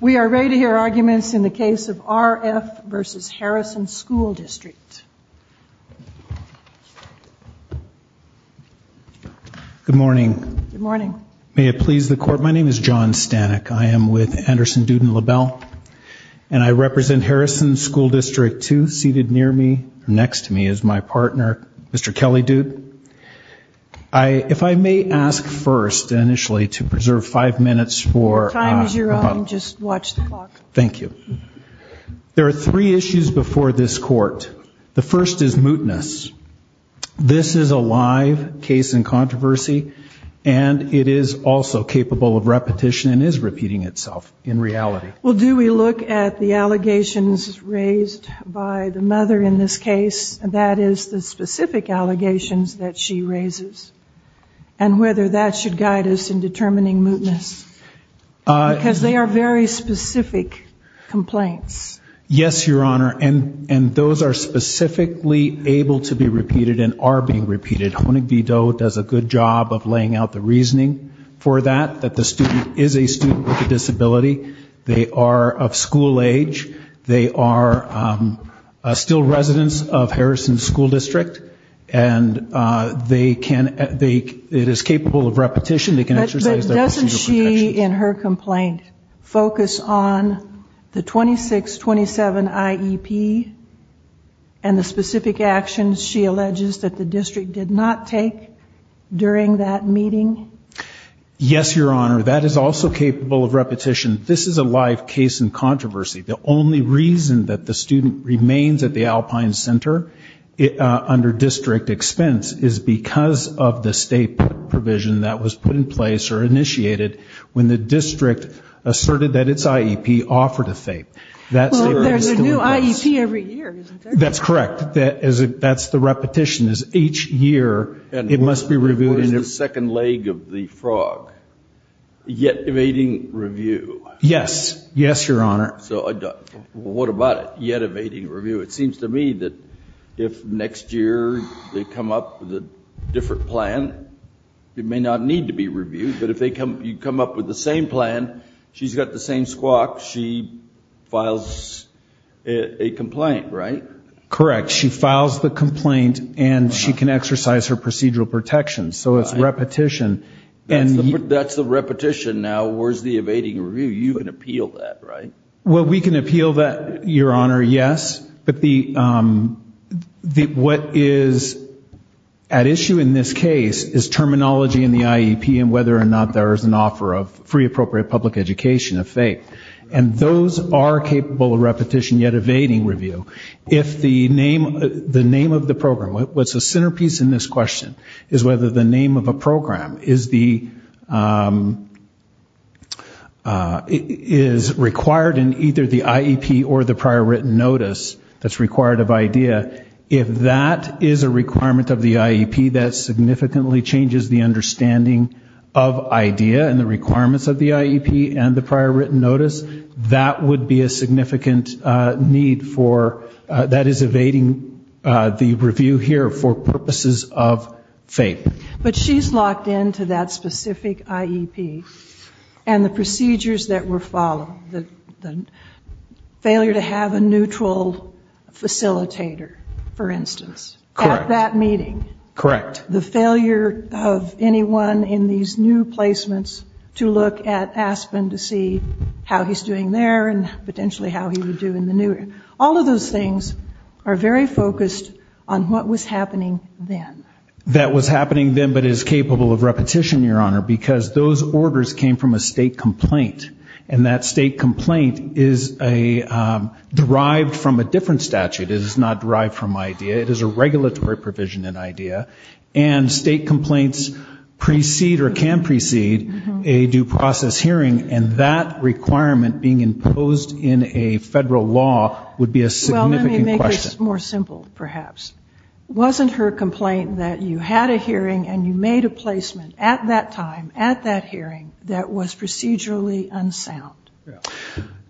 We are ready to hear arguments in the case of R.F. v. Harrison School District. Good morning. Good morning. May it please the Court, my name is John Stanek. I am with Anderson Dude and LaBelle. And I represent Harrison School District 2. Seated near me, next to me, is my partner, Mr. Kelly Dude. If I may ask first, initially, to preserve five minutes for... Your time is your own. Just watch the clock. Thank you. There are three issues before this Court. The first is mootness. This is a live case in controversy and it is also capable of repetition and is repeating itself in reality. Well, do we look at the allegations raised by the mother in this case, that is, the specific allegations that she raises, and whether that should guide us in determining mootness? Because they are very specific complaints. Yes, Your Honor, and those are specifically able to be repeated and are being repeated. Honig-Videau does a good job of laying out the reasoning for that, that the student is a student with a disability. They are of school age. They are still residents of Harrison School District. And they can, it is capable of repetition. But doesn't she, in her complaint, focus on the 26-27 IEP and the specific actions she alleges that the district did not take during that meeting? Yes, Your Honor. That is also capable of repetition. This is a live case in controversy. The only reason that the student remains at the Alpine Center under district expense is because of the state provision that was put in place or initiated when the district asserted that its IEP offered a FAPE. Well, there's a new IEP every year, isn't there? That's correct. That's the repetition. What is the second leg of the frog? Yet evading review. Yes. Yes, Your Honor. So what about it? Yet evading review. It seems to me that if next year they come up with a different plan, it may not need to be reviewed. But if you come up with the same plan, she's got the same squawk, she files a complaint, right? Correct. She files the complaint and she can exercise her procedural protections. So it's repetition. That's the repetition. Now where's the evading review? You can appeal that, right? Well, we can appeal that, Your Honor, yes. But what is at issue in this case is terminology in the IEP and whether or not there is an offer of free appropriate public education, a FAPE. And those are capable of repetition, yet evading review. If the name of the program, what's the centerpiece in this question, is whether the name of a program is required in either the IEP or the prior written notice that's required of IDEA. If that is a requirement of the IEP, that significantly changes the understanding of IDEA and the requirements of the IEP and the prior written notice, that would be a significant need for, that is evading the review here for purposes of FAPE. But she's locked into that specific IEP and the procedures that were followed, the failure to have a neutral facilitator, for instance, at that meeting. Correct. The failure of anyone in these new placements to look at Aspen to see how he's doing there and potentially how he would do in the new year. All of those things are very focused on what was happening then. That was happening then but is capable of repetition, Your Honor, because those orders came from a state complaint. And that state complaint is derived from a different statute. It is not derived from IDEA. It is a regulatory provision in IDEA. And state complaints precede or can precede a due process hearing, and that requirement being imposed in a federal law would be a significant question. Well, let me make this more simple, perhaps. Wasn't her complaint that you had a hearing and you made a placement at that time, at that hearing, that was procedurally unsound?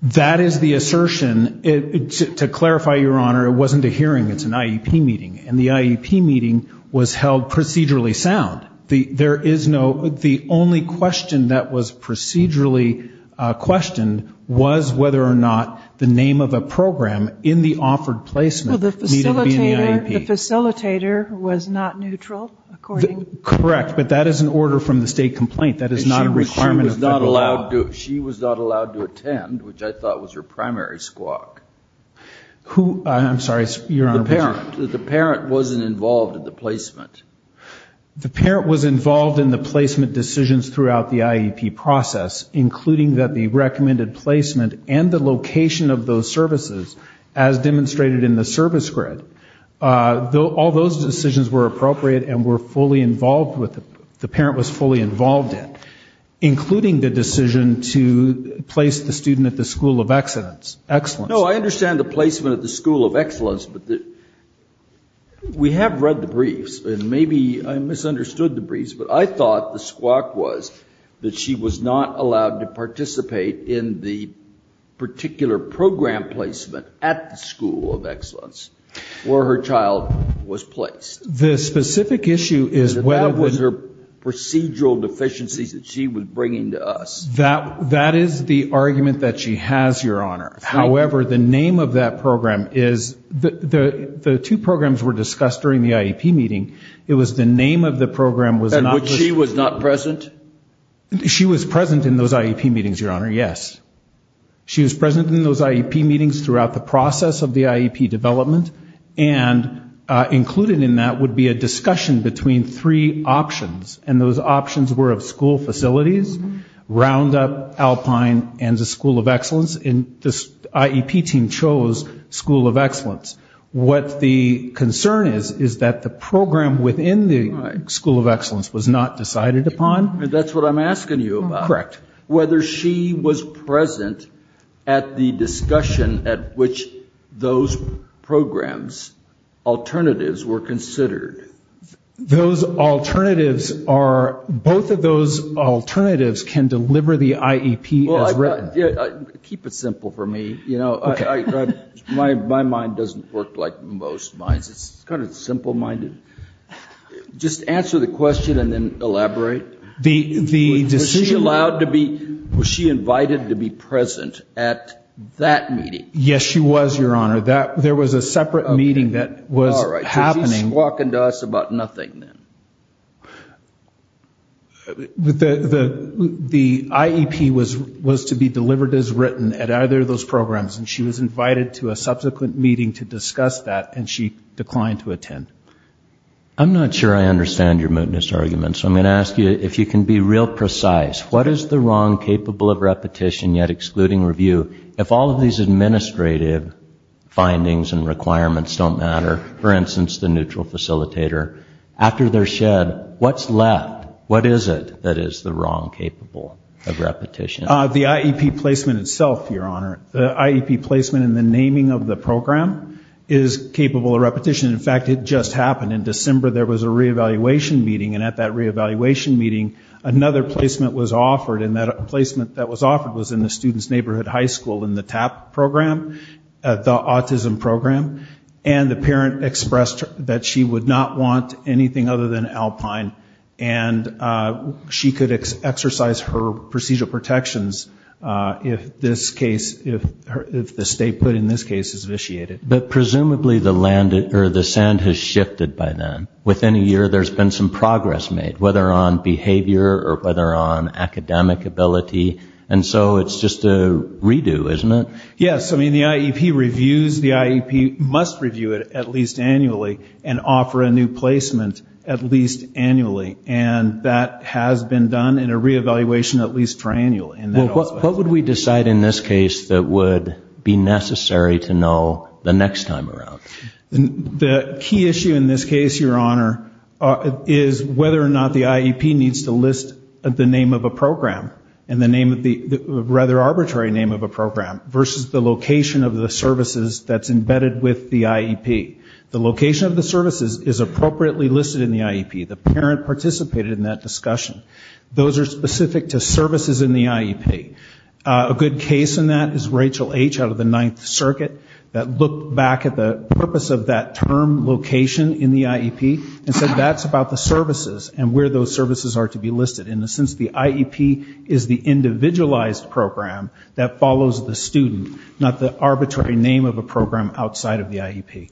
That is the assertion. To clarify, Your Honor, it wasn't a hearing. It's an IEP meeting. And the IEP meeting was held procedurally sound. There is no ñ the only question that was procedurally questioned was whether or not the name of a program in the offered placement needed to be in the IEP. Well, the facilitator was not neutral, according ñ Correct, but that is an order from the state complaint. That is not a requirement of federal law. She was not allowed to attend, which I thought was her primary squawk. Who ñ I'm sorry, Your Honor. The parent. The parent wasn't involved in the placement. The parent was involved in the placement decisions throughout the IEP process, including the recommended placement and the location of those services, as demonstrated in the service grid. All those decisions were appropriate and were fully involved with ñ the parent was fully involved in, including the decision to place the student at the school of excellence. No, I understand the placement at the school of excellence, but we have read the briefs and maybe I misunderstood the briefs, but I thought the squawk was that she was not allowed to participate in the particular program placement at the school of excellence where her child was placed. The specific issue is whether the ñ That was her procedural deficiencies that she was bringing to us. That is the argument that she has, Your Honor. However, the name of that program is ñ the two programs were discussed during the IEP meeting. It was the name of the program was not the ñ In which she was not present? She was present in those IEP meetings, Your Honor, yes. She was present in those IEP meetings throughout the process of the IEP development, and included in that would be a discussion between three options, and those options were of school facilities, Roundup, Alpine, and the school of excellence, and the IEP team chose school of excellence. What the concern is is that the program within the school of excellence was not decided upon. That's what I'm asking you about. Correct. Whether she was present at the discussion at which those programs alternatives were considered. Those alternatives are ñ both of those alternatives can deliver the IEP as written. Keep it simple for me. My mind doesn't work like most minds. It's kind of simple-minded. Just answer the question and then elaborate. Was she allowed to be ñ was she invited to be present at that meeting? Yes, she was, Your Honor. There was a separate meeting that was happening. All right. So she's talking to us about nothing then. The IEP was to be delivered as written at either of those programs, and she was invited to a subsequent meeting to discuss that, and she declined to attend. I'm not sure I understand your mootness argument, so I'm going to ask you if you can be real precise. What is the wrong capable of repetition yet excluding review? If all of these administrative findings and requirements don't matter, for instance, the neutral facilitator, after they're shed, what's left? What is it that is the wrong capable of repetition? The IEP placement itself, Your Honor. The IEP placement and the naming of the program is capable of repetition. In fact, it just happened. In December, there was a reevaluation meeting, and at that reevaluation meeting, another placement was offered, and that placement that was offered was in the student's neighborhood high school in the TAP program, the autism program, and the parent expressed that she would not want anything other than Alpine, and she could exercise her procedural protections if this case ñ if the state put in this case is vitiated. But presumably the sand has shifted by then. Within a year, there's been some progress made, whether on behavior or whether on academic ability, and so it's just a redo, isn't it? Yes. I mean, the IEP reviews. The IEP must review it at least annually and offer a new placement at least annually, and that has been done in a reevaluation at least for annual. Well, what would we decide in this case that would be necessary to know the next time around? The key issue in this case, Your Honor, is whether or not the IEP needs to list the name of a program and the name of the ñ rather arbitrary name of a program, versus the location of the services that's embedded with the IEP. The location of the services is appropriately listed in the IEP. The parent participated in that discussion. Those are specific to services in the IEP. A good case in that is Rachel H. out of the Ninth Circuit that looked back at the purpose of that term, location, in the IEP, and said that's about the services and where those services are to be listed. In a sense, the IEP is the individualized program that follows the student, not the arbitrary name of a program outside of the IEP.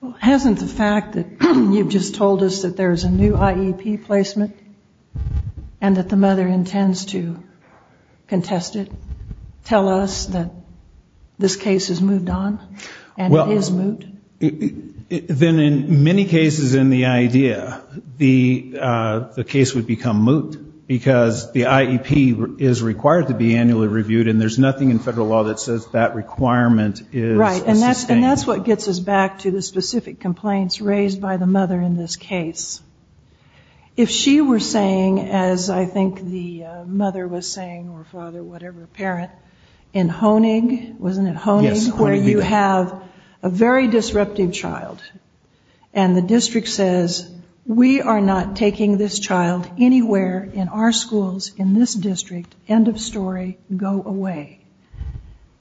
Well, hasn't the fact that you've just told us that there's a new IEP placement and that the mother intends to contest it tell us that this case has moved on and is moot? Then in many cases in the idea, the case would become moot because the IEP is required to be annually reviewed and there's nothing in federal law that says that requirement is sustainable. And that's what gets us back to the specific complaints raised by the mother in this case. If she were saying, as I think the mother was saying or father, whatever, parent, in Honig, wasn't it Honig, where you have a very disruptive child and the district says we are not taking this child anywhere in our schools in this district, end of story, go away.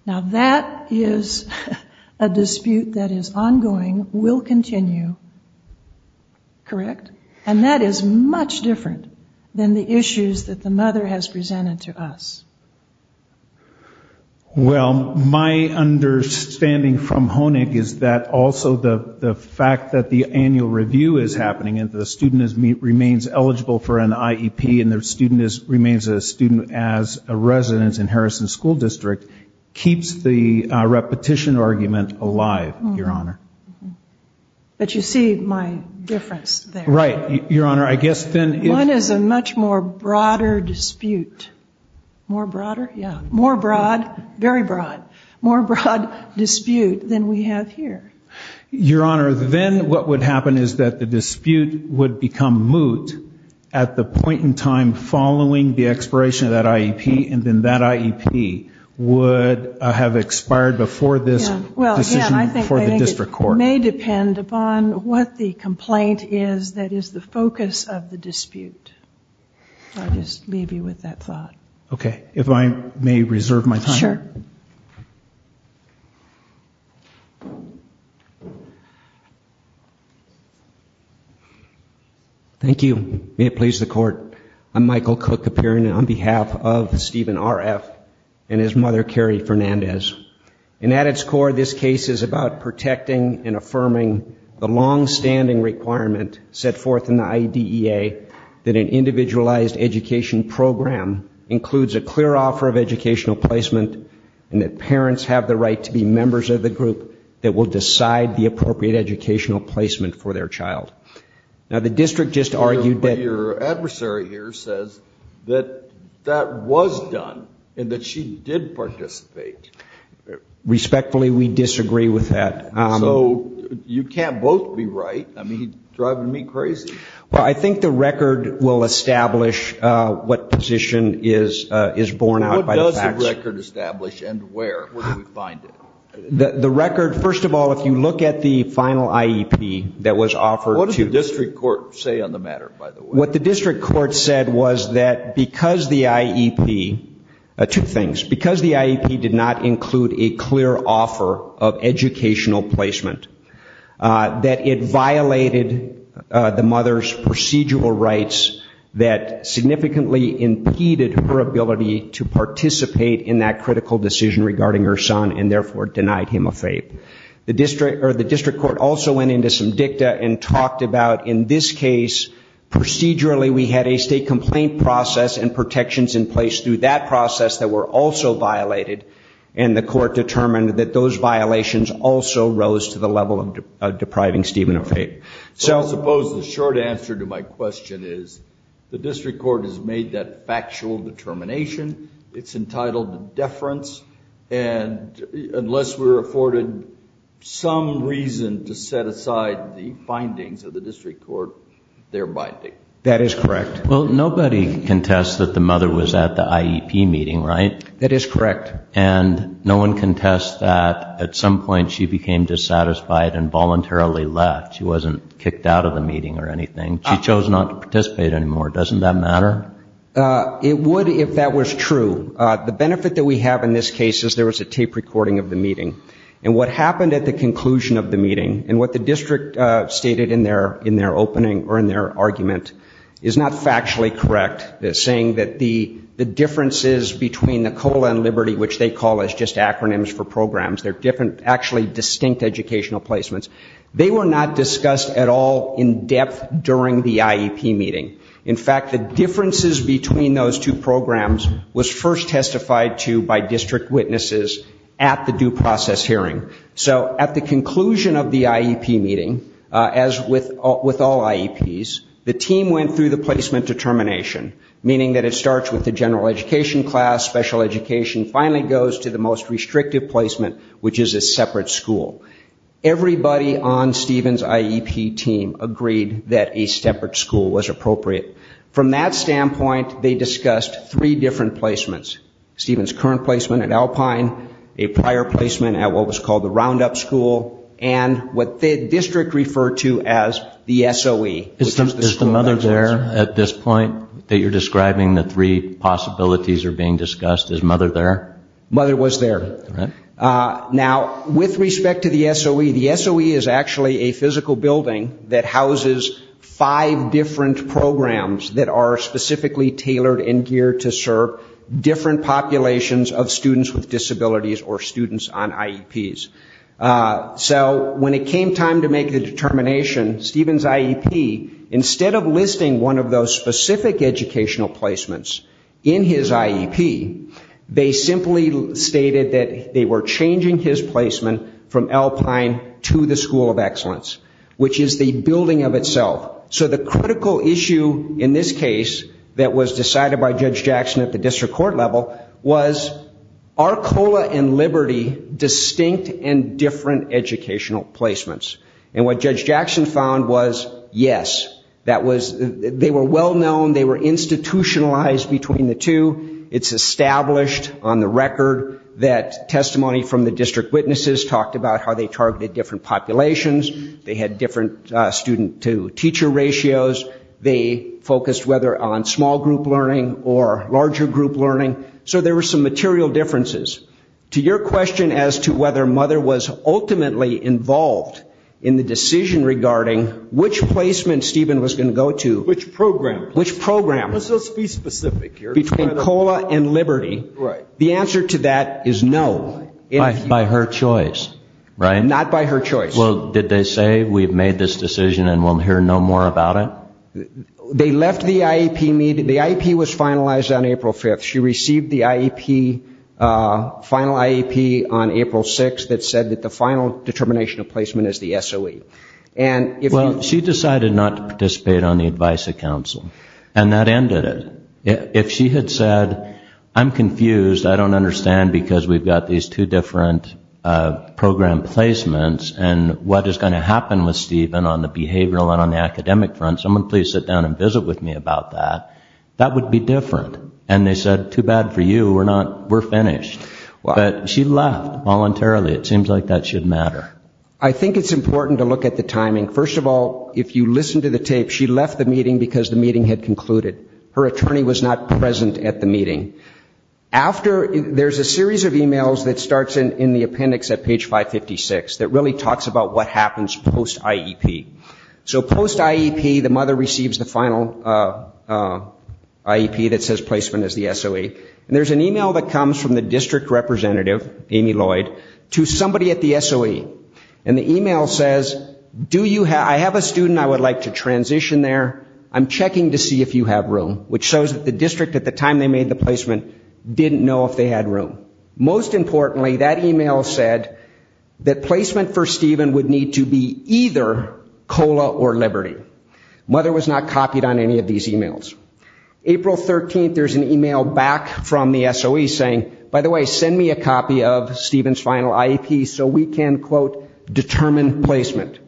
Now that is a dispute that is ongoing, will continue, correct? And that is much different than the issues that the mother has presented to us. Well, my understanding from Honig is that also the fact that the annual review is happening and the student remains eligible for an IEP and the student remains a student as a resident in Harrison School District keeps the repetition argument alive, Your Honor. But you see my difference there. Right, Your Honor. One is a much more broader dispute. More broader? Yeah, more broad, very broad, more broad dispute than we have here. Your Honor, then what would happen is that the dispute would become moot at the point in time following the expiration of that IEP and then that IEP would have expired before this decision for the district court. Well, again, I think it may depend upon what the complaint is that is the focus of the dispute. I'll just leave you with that thought. Sure. Thank you. May it please the Court. I'm Michael Cook, appearing on behalf of Stephen RF and his mother, Carrie Fernandez. And at its core, this case is about protecting and affirming the longstanding requirement set forth in the IDEA that an individualized education program includes a clear offer of educational placement and that parents have the right to be members of the group that will decide the appropriate educational placement for their child. Now, the district just argued that. But your adversary here says that that was done and that she did participate. Respectfully, we disagree with that. So you can't both be right. I mean, you're driving me crazy. Well, I think the record will establish what position is borne out by the facts. What record establish and where? Where do we find it? The record, first of all, if you look at the final IEP that was offered to us. What did the district court say on the matter, by the way? What the district court said was that because the IEP, two things, because the IEP did not include a clear offer of educational placement, that it violated the mother's procedural rights that significantly impeded her ability to participate in that critical decision regarding her son and therefore denied him a FAPE. The district court also went into some dicta and talked about, in this case, procedurally, we had a state complaint process and protections in place through that process that were also violated, and the court determined that those violations also rose to the level of depriving Stephen of FAPE. So I suppose the short answer to my question is the district court has made that factual determination. It's entitled to deference. And unless we're afforded some reason to set aside the findings of the district court, they're binding. That is correct. Well, nobody contests that the mother was at the IEP meeting, right? That is correct. And no one contests that at some point she became dissatisfied and voluntarily left. She wasn't kicked out of the meeting or anything. She chose not to participate anymore. Doesn't that matter? It would if that was true. The benefit that we have in this case is there was a tape recording of the meeting, and what happened at the conclusion of the meeting and what the district stated in their opening or in their argument is not factually correct, saying that the differences between the COLA and Liberty, which they call just acronyms for programs, they're actually distinct educational placements. They were not discussed at all in depth during the IEP meeting. In fact, the differences between those two programs was first testified to by district witnesses at the due process hearing. So at the conclusion of the IEP meeting, as with all IEPs, the team went through the placement determination, meaning that it starts with the general education class, special education, finally goes to the most restrictive placement, which is a separate school. Everybody on Stephen's IEP team agreed that a separate school was appropriate. From that standpoint, they discussed three different placements. Stephen's current placement at Alpine, a prior placement at what was called the Roundup School, and what the district referred to as the SOE. Is the mother there at this point that you're describing the three possibilities are being discussed? Is mother there? Mother was there. Now, with respect to the SOE, the SOE is actually a physical building that houses five different programs that are specifically tailored and geared to serve different populations of students with disabilities or students on IEPs. So when it came time to make the determination, Stephen's IEP, instead of listing one of those specific educational placements in his IEP, they simply stated that they were changing his placement from Alpine to the School of Excellence, which is the building of itself. So the critical issue in this case that was decided by Judge Jackson at the district court level was are COLA and Liberty distinct and different educational placements? And what Judge Jackson found was yes. They were well known. They were institutionalized between the two. It's established on the record that testimony from the district witnesses talked about how they targeted different populations. They had different student-to-teacher ratios. They focused whether on small group learning or larger group learning. So there were some material differences. To your question as to whether mother was ultimately involved in the decision regarding which placement Stephen was going to go to. Which program? Which program. Let's be specific here. Between COLA and Liberty, the answer to that is no. By her choice, right? Not by her choice. Well, did they say we've made this decision and we'll hear no more about it? They left the IEP. The IEP was finalized on April 5th. She received the IEP, final IEP, on April 6th that said that the final determination of placement is the SOE. Well, she decided not to participate on the advice of council. And that ended it. If she had said, I'm confused, I don't understand because we've got these two different program placements and what is going to happen with Stephen on the behavioral and on the academic front, someone please sit down and visit with me about that, that would be different. And they said, too bad for you, we're finished. But she left voluntarily. It seems like that should matter. I think it's important to look at the timing. First of all, if you listen to the tape, she left the meeting because the meeting had concluded. Her attorney was not present at the meeting. After, there's a series of e-mails that starts in the appendix at page 556 that really talks about what happens post IEP. So post IEP, the mother receives the final IEP that says placement is the SOE. And there's an e-mail that comes from the district representative, Amy Lloyd, to somebody at the SOE. And the e-mail says, I have a student I would like to transition there. I'm checking to see if you have room, which shows that the district at the time they made the placement didn't know if they had room. Most importantly, that e-mail said that placement for Stephen would need to be either COLA or Liberty. Mother was not copied on any of these e-mails. April 13th, there's an e-mail back from the SOE saying, by the way, send me a copy of Stephen's final IEP so we can, quote, determine placement.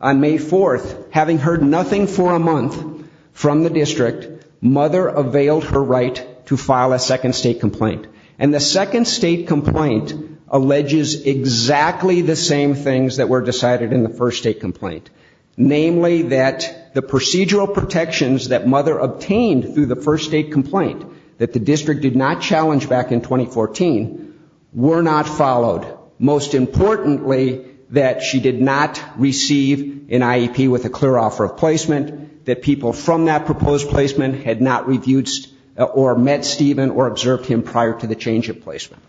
On May 4th, having heard nothing for a month from the district, mother availed her right to file a second state complaint. And the second state complaint alleges exactly the same things that were decided in the first state complaint, namely that the procedural protections that mother obtained through the first state complaint that the district did not challenge back in 2014 were not followed. Most importantly, that she did not receive an IEP with a clear offer of placement, that people from that proposed placement had not reviewed or met Stephen or observed him prior to the change of placement.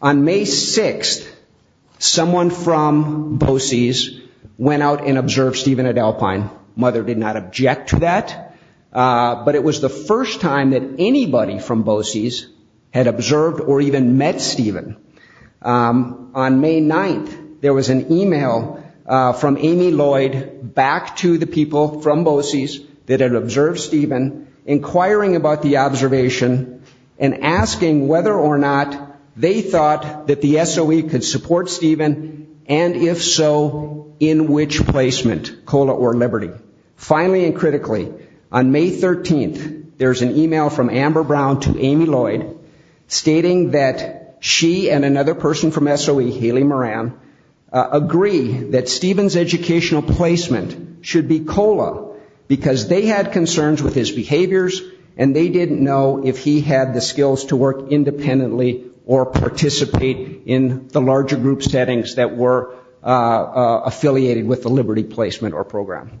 On May 6th, someone from BOCES went out and observed Stephen at Alpine. Mother did not object to that. But it was the first time that anybody from BOCES had observed or even met Stephen. On May 9th, there was an e-mail from Amy Lloyd back to the people from BOCES that had observed Stephen inquiring about the SOE could support Stephen, and if so, in which placement, COLA or Liberty. Finally and critically, on May 13th, there's an e-mail from Amber Brown to Amy Lloyd stating that she and another person from SOE, Haley Moran, agree that Stephen's educational placement should be COLA because they had concerns with his behaviors and they didn't know if he had the skills to work independently or participate in the larger group settings that were affiliated with the Liberty placement or program.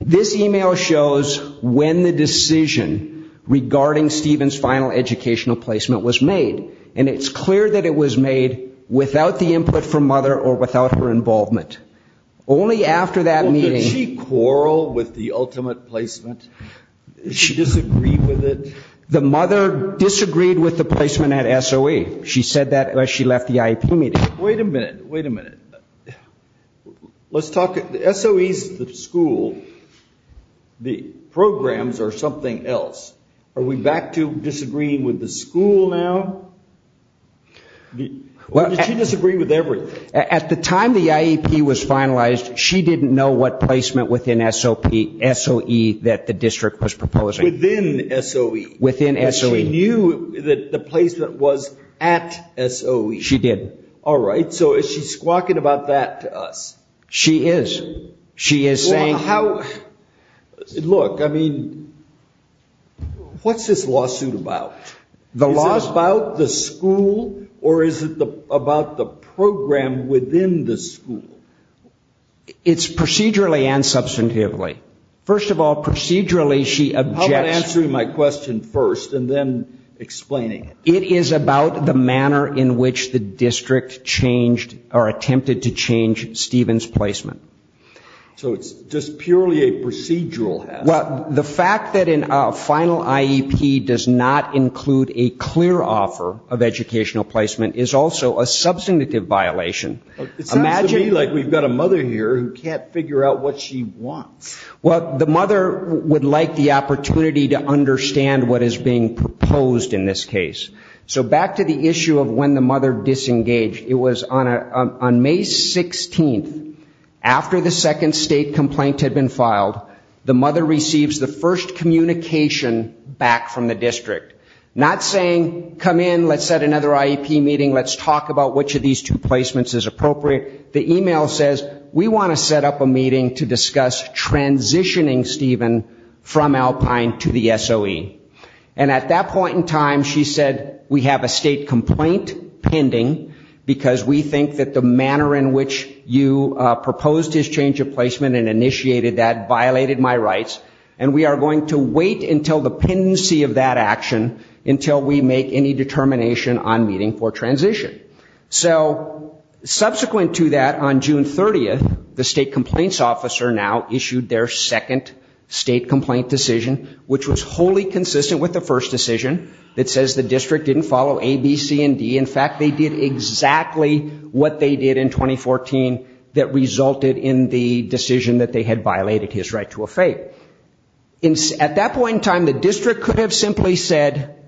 This e-mail shows when the decision regarding Stephen's final educational placement was made. And it's clear that it was made without the input from mother or without her involvement. Only after that meeting... The mother disagreed with the placement at SOE. She said that as she left the IEP meeting. Wait a minute. Wait a minute. Let's talk... SOE is the school. The programs are something else. Are we back to disagreeing with the school now? Or did she disagree with everything? At the time the IEP was finalized, she didn't know what placement within SOE that the district was proposing. Within SOE. Within SOE. She knew that the placement was at SOE. She did. All right. So is she squawking about that to us? She is. She is saying... How... Look, I mean, what's this lawsuit about? The lawsuit... Is it about the school or is it about the program within the school? It's procedurally and substantively. First of all, procedurally she objects... How about answering my question first and then explaining it? It is about the manner in which the district changed or attempted to change Stephen's placement. So it's just purely a procedural... Well, the fact that a final IEP does not include a clear offer of educational placement is also a substantive violation. It sounds to me like we've got a mother here who can't figure out what she wants. Well, the mother would like the opportunity to understand what is being proposed in this case. So back to the issue of when the mother disengaged. It was on May 16th. After the second state complaint had been filed, the mother receives the first communication back from the district. Not saying, come in, let's set another IEP meeting, let's talk about which of these two placements is appropriate. The e-mail says, we want to set up a meeting to discuss transitioning Stephen from Alpine to the SOE. And at that point in time, she said, we have a state complaint pending because we think that the manner in which you proposed his change of placement and initiated that violated my rights and we are going to wait until the pendency of that action until we make any determination on meeting for transition. So subsequent to that, on June 30th, the state complaints officer now issued their second state complaint decision, which was wholly consistent with the first decision that says the district didn't follow A, B, C, and D. In fact, they did exactly what they did in 2014 that resulted in the decision that they had violated his right to a fate. At that point in time, the district could have simply said,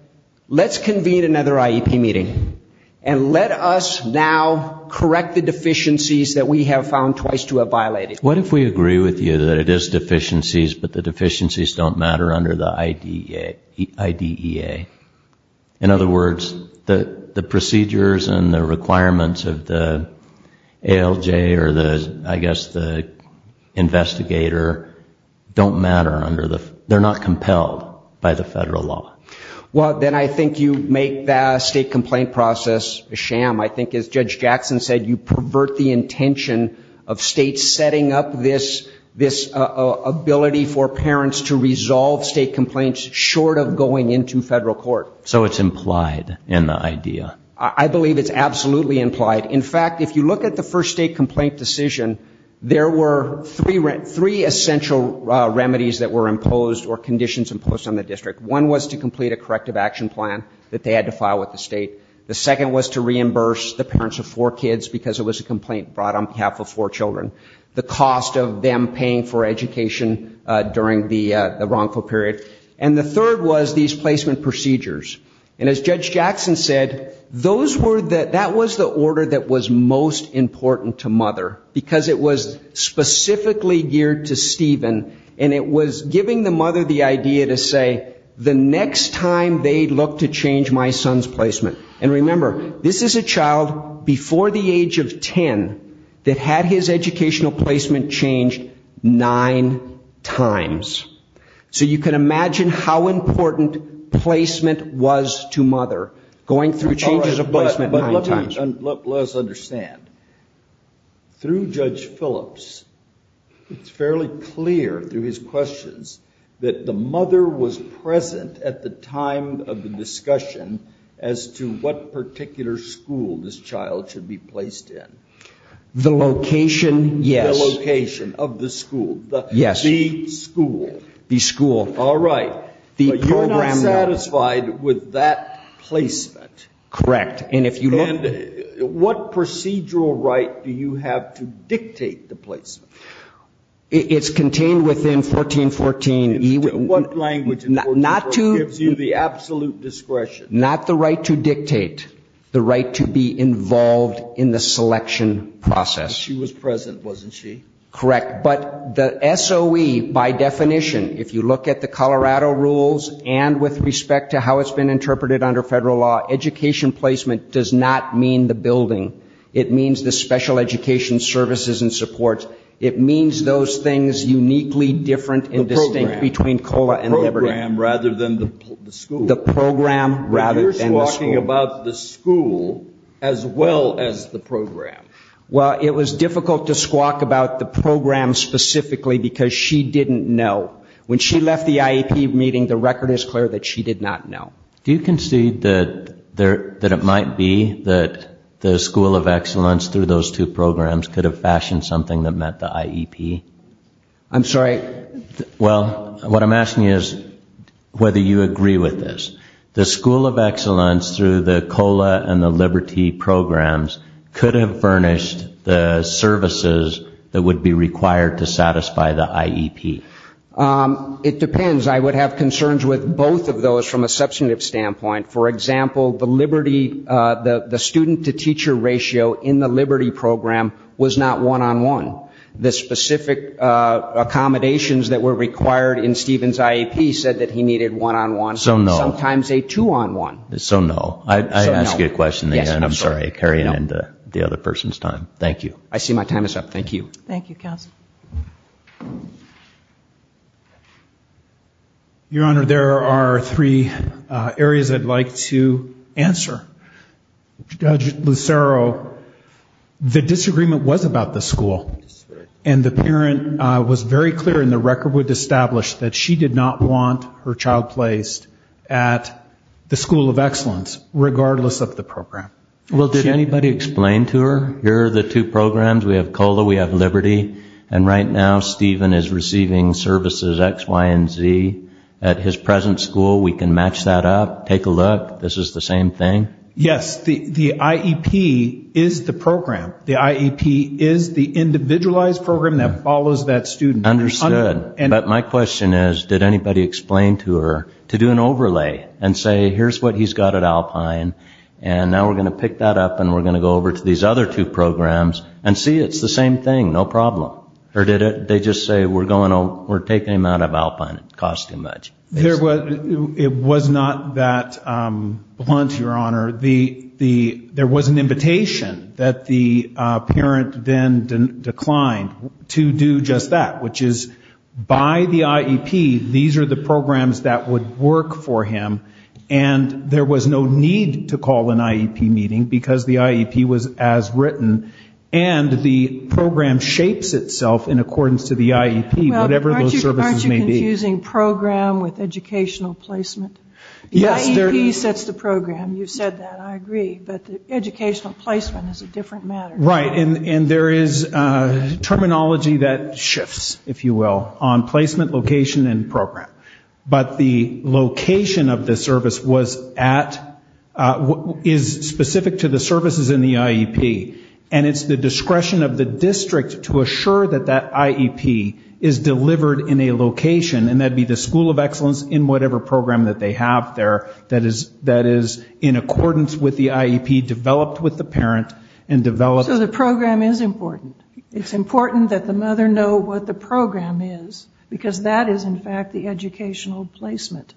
let's convene another IEP meeting and let us now correct the deficiencies that we have found twice to have violated. What if we agree with you that it is deficiencies, but the deficiencies don't matter under the IDEA? In other words, the procedures and the requirements of the ALJ or the, I guess, the investigator don't matter under the, they're not compelled by the federal law? Well, then I think you make that state complaint process a sham. I think as Judge Jackson said, you pervert the intention of states setting up this ability for parents to resolve state complaints short of going into federal court. So it's implied in the IDEA? I believe it's absolutely implied. In fact, if you look at the first state complaint decision, there were three essential remedies that were imposed or conditions imposed on the district. One was to complete a corrective action plan that they had to file with the state. The second was to reimburse the parents of four kids because it was a complaint brought on behalf of four children. The cost of them paying for education during the wrongful period. And the third was these placement procedures. And as Judge Jackson said, those were the, that was the order that was most important to mother, because it was specifically geared to Stephen, and it was giving the mother the idea to say, the next time they look to change my son's placement. And remember, this is a child before the age of 10 that had his educational placement changed nine times. So you can imagine how important placement was to mother, going through changes of placement nine times. Let us understand. Through Judge Phillips, it's fairly clear through his questions that the mother was present at the time of the discussion as to what particular school this child should be placed in. The location, yes. The location of the school. Yes. The school. The school. All right. But you're not satisfied with that placement. Correct. And if you look. And what procedural right do you have to dictate the placement? It's contained within 1414. What language in 1414 gives you the absolute discretion? Not the right to dictate. The right to be involved in the selection process. But she was present, wasn't she? Correct. But the SOE, by definition, if you look at the Colorado rules and with respect to how it's been interpreted under federal law, education placement does not mean the building. It means the special education services and supports. It means those things uniquely different and distinct between COLA and Liberty. The program rather than the school. The program rather than the school. You're squawking about the school as well as the program. Well, it was difficult to squawk about the program specifically because she didn't know. When she left the IEP meeting, the record is clear that she did not know. Do you concede that it might be that the School of Excellence, through those two programs, could have fashioned something that met the IEP? I'm sorry? Well, what I'm asking you is whether you agree with this. The School of Excellence, through the COLA and the Liberty programs, could have furnished the services that would be required to satisfy the IEP. It depends. I would have concerns with both of those from a substantive standpoint. For example, the student-to-teacher ratio in the Liberty program was not one-on-one. The specific accommodations that were required in Stephen's IEP said that he needed one-on-one. So no. Sometimes a two-on-one. So no. I ask you a question again. I'm sorry. I carry it into the other person's time. Thank you. I see my time is up. Thank you. Thank you, Counsel. Your Honor, there are three areas I'd like to answer. Judge Lucero, the disagreement was about the school, and the parent was very clear, and the record would establish, that she did not want her child placed at the School of Excellence, regardless of the program. Well, did anybody explain to her, here are the two programs, we have COLA, we have Liberty, and right now Stephen is receiving services X, Y, and Z. At his present school, we can match that up, take a look, this is the same thing? Yes. The IEP is the program. The IEP is the individualized program that follows that student. Understood. But my question is, did anybody explain to her to do an overlay, and say here's what he's got at Alpine, and now we're going to pick that up, and we're going to go over to these other two programs, and see it's the same thing, no problem? Or did they just say we're taking him out of Alpine, it costs too much? It was not that blunt, Your Honor. There was an invitation that the parent then declined to do just that, which is by the IEP, these are the programs that would work for him, and there was no need to call an IEP meeting because the IEP was as written, and the program shapes itself in accordance to the IEP, whatever those services may be. Well, aren't you confusing program with educational placement? Yes. The IEP sets the program. You've said that. I agree. But the educational placement is a different matter. Right. And there is terminology that shifts, if you will, on placement, location, and program. But the location of the service is specific to the services in the IEP, and it's the discretion of the district to assure that that IEP is delivered in a location, and that would be the school of excellence in whatever program that they have there that is in accordance with the IEP, developed with the parent, and developed. So the program is important. It's important that the mother know what the program is, because that is, in fact, the educational placement.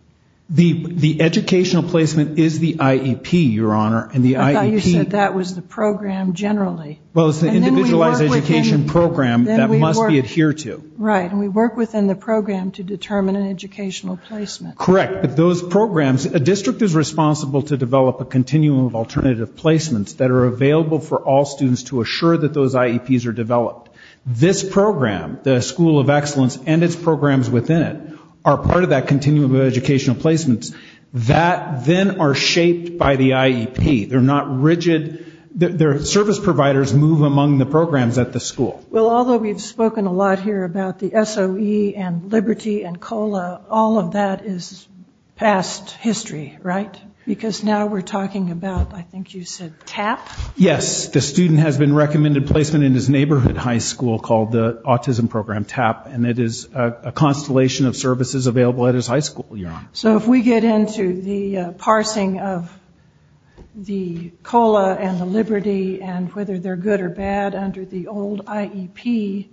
The educational placement is the IEP, Your Honor, and the IEP. I thought you said that was the program generally. Well, it's the individualized education program that must be adhered to. Right. And we work within the program to determine an educational placement. Correct. But those programs, a district is responsible to develop a continuum of alternative placements that are available for all students to assure that those IEPs are developed. This program, the school of excellence and its programs within it, are part of that continuum of educational placements that then are shaped by the IEP. They're not rigid. Their service providers move among the programs at the school. Well, although we've spoken a lot here about the SOE and Liberty and COLA, all of that is past history, right? Because now we're talking about, I think you said TAP? Yes. The student has been recommended placement in his neighborhood high school called the autism program TAP, and it is a constellation of services available at his high school, Your Honor. So if we get into the parsing of the COLA and the Liberty and whether they're good or bad under the old IEP,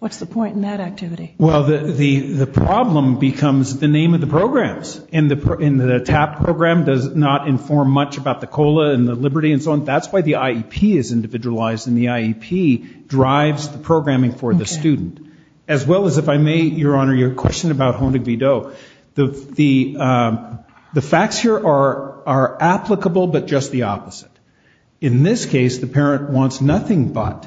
what's the point in that activity? Well, the problem becomes the name of the programs, and the TAP program does not inform much about the COLA and the Liberty and so on. That's why the IEP is individualized, and the IEP drives the programming for the student. Okay. As well as, if I may, Your Honor, your question about Honig-Vidot. So the facts here are applicable but just the opposite. In this case, the parent wants nothing but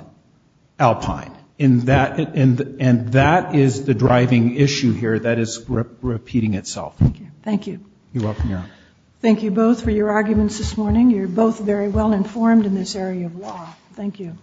Alpine, and that is the driving issue here that is repeating itself. Thank you. You're welcome, Your Honor. Thank you both for your arguments this morning. You're both very well informed in this area of law. Thank you.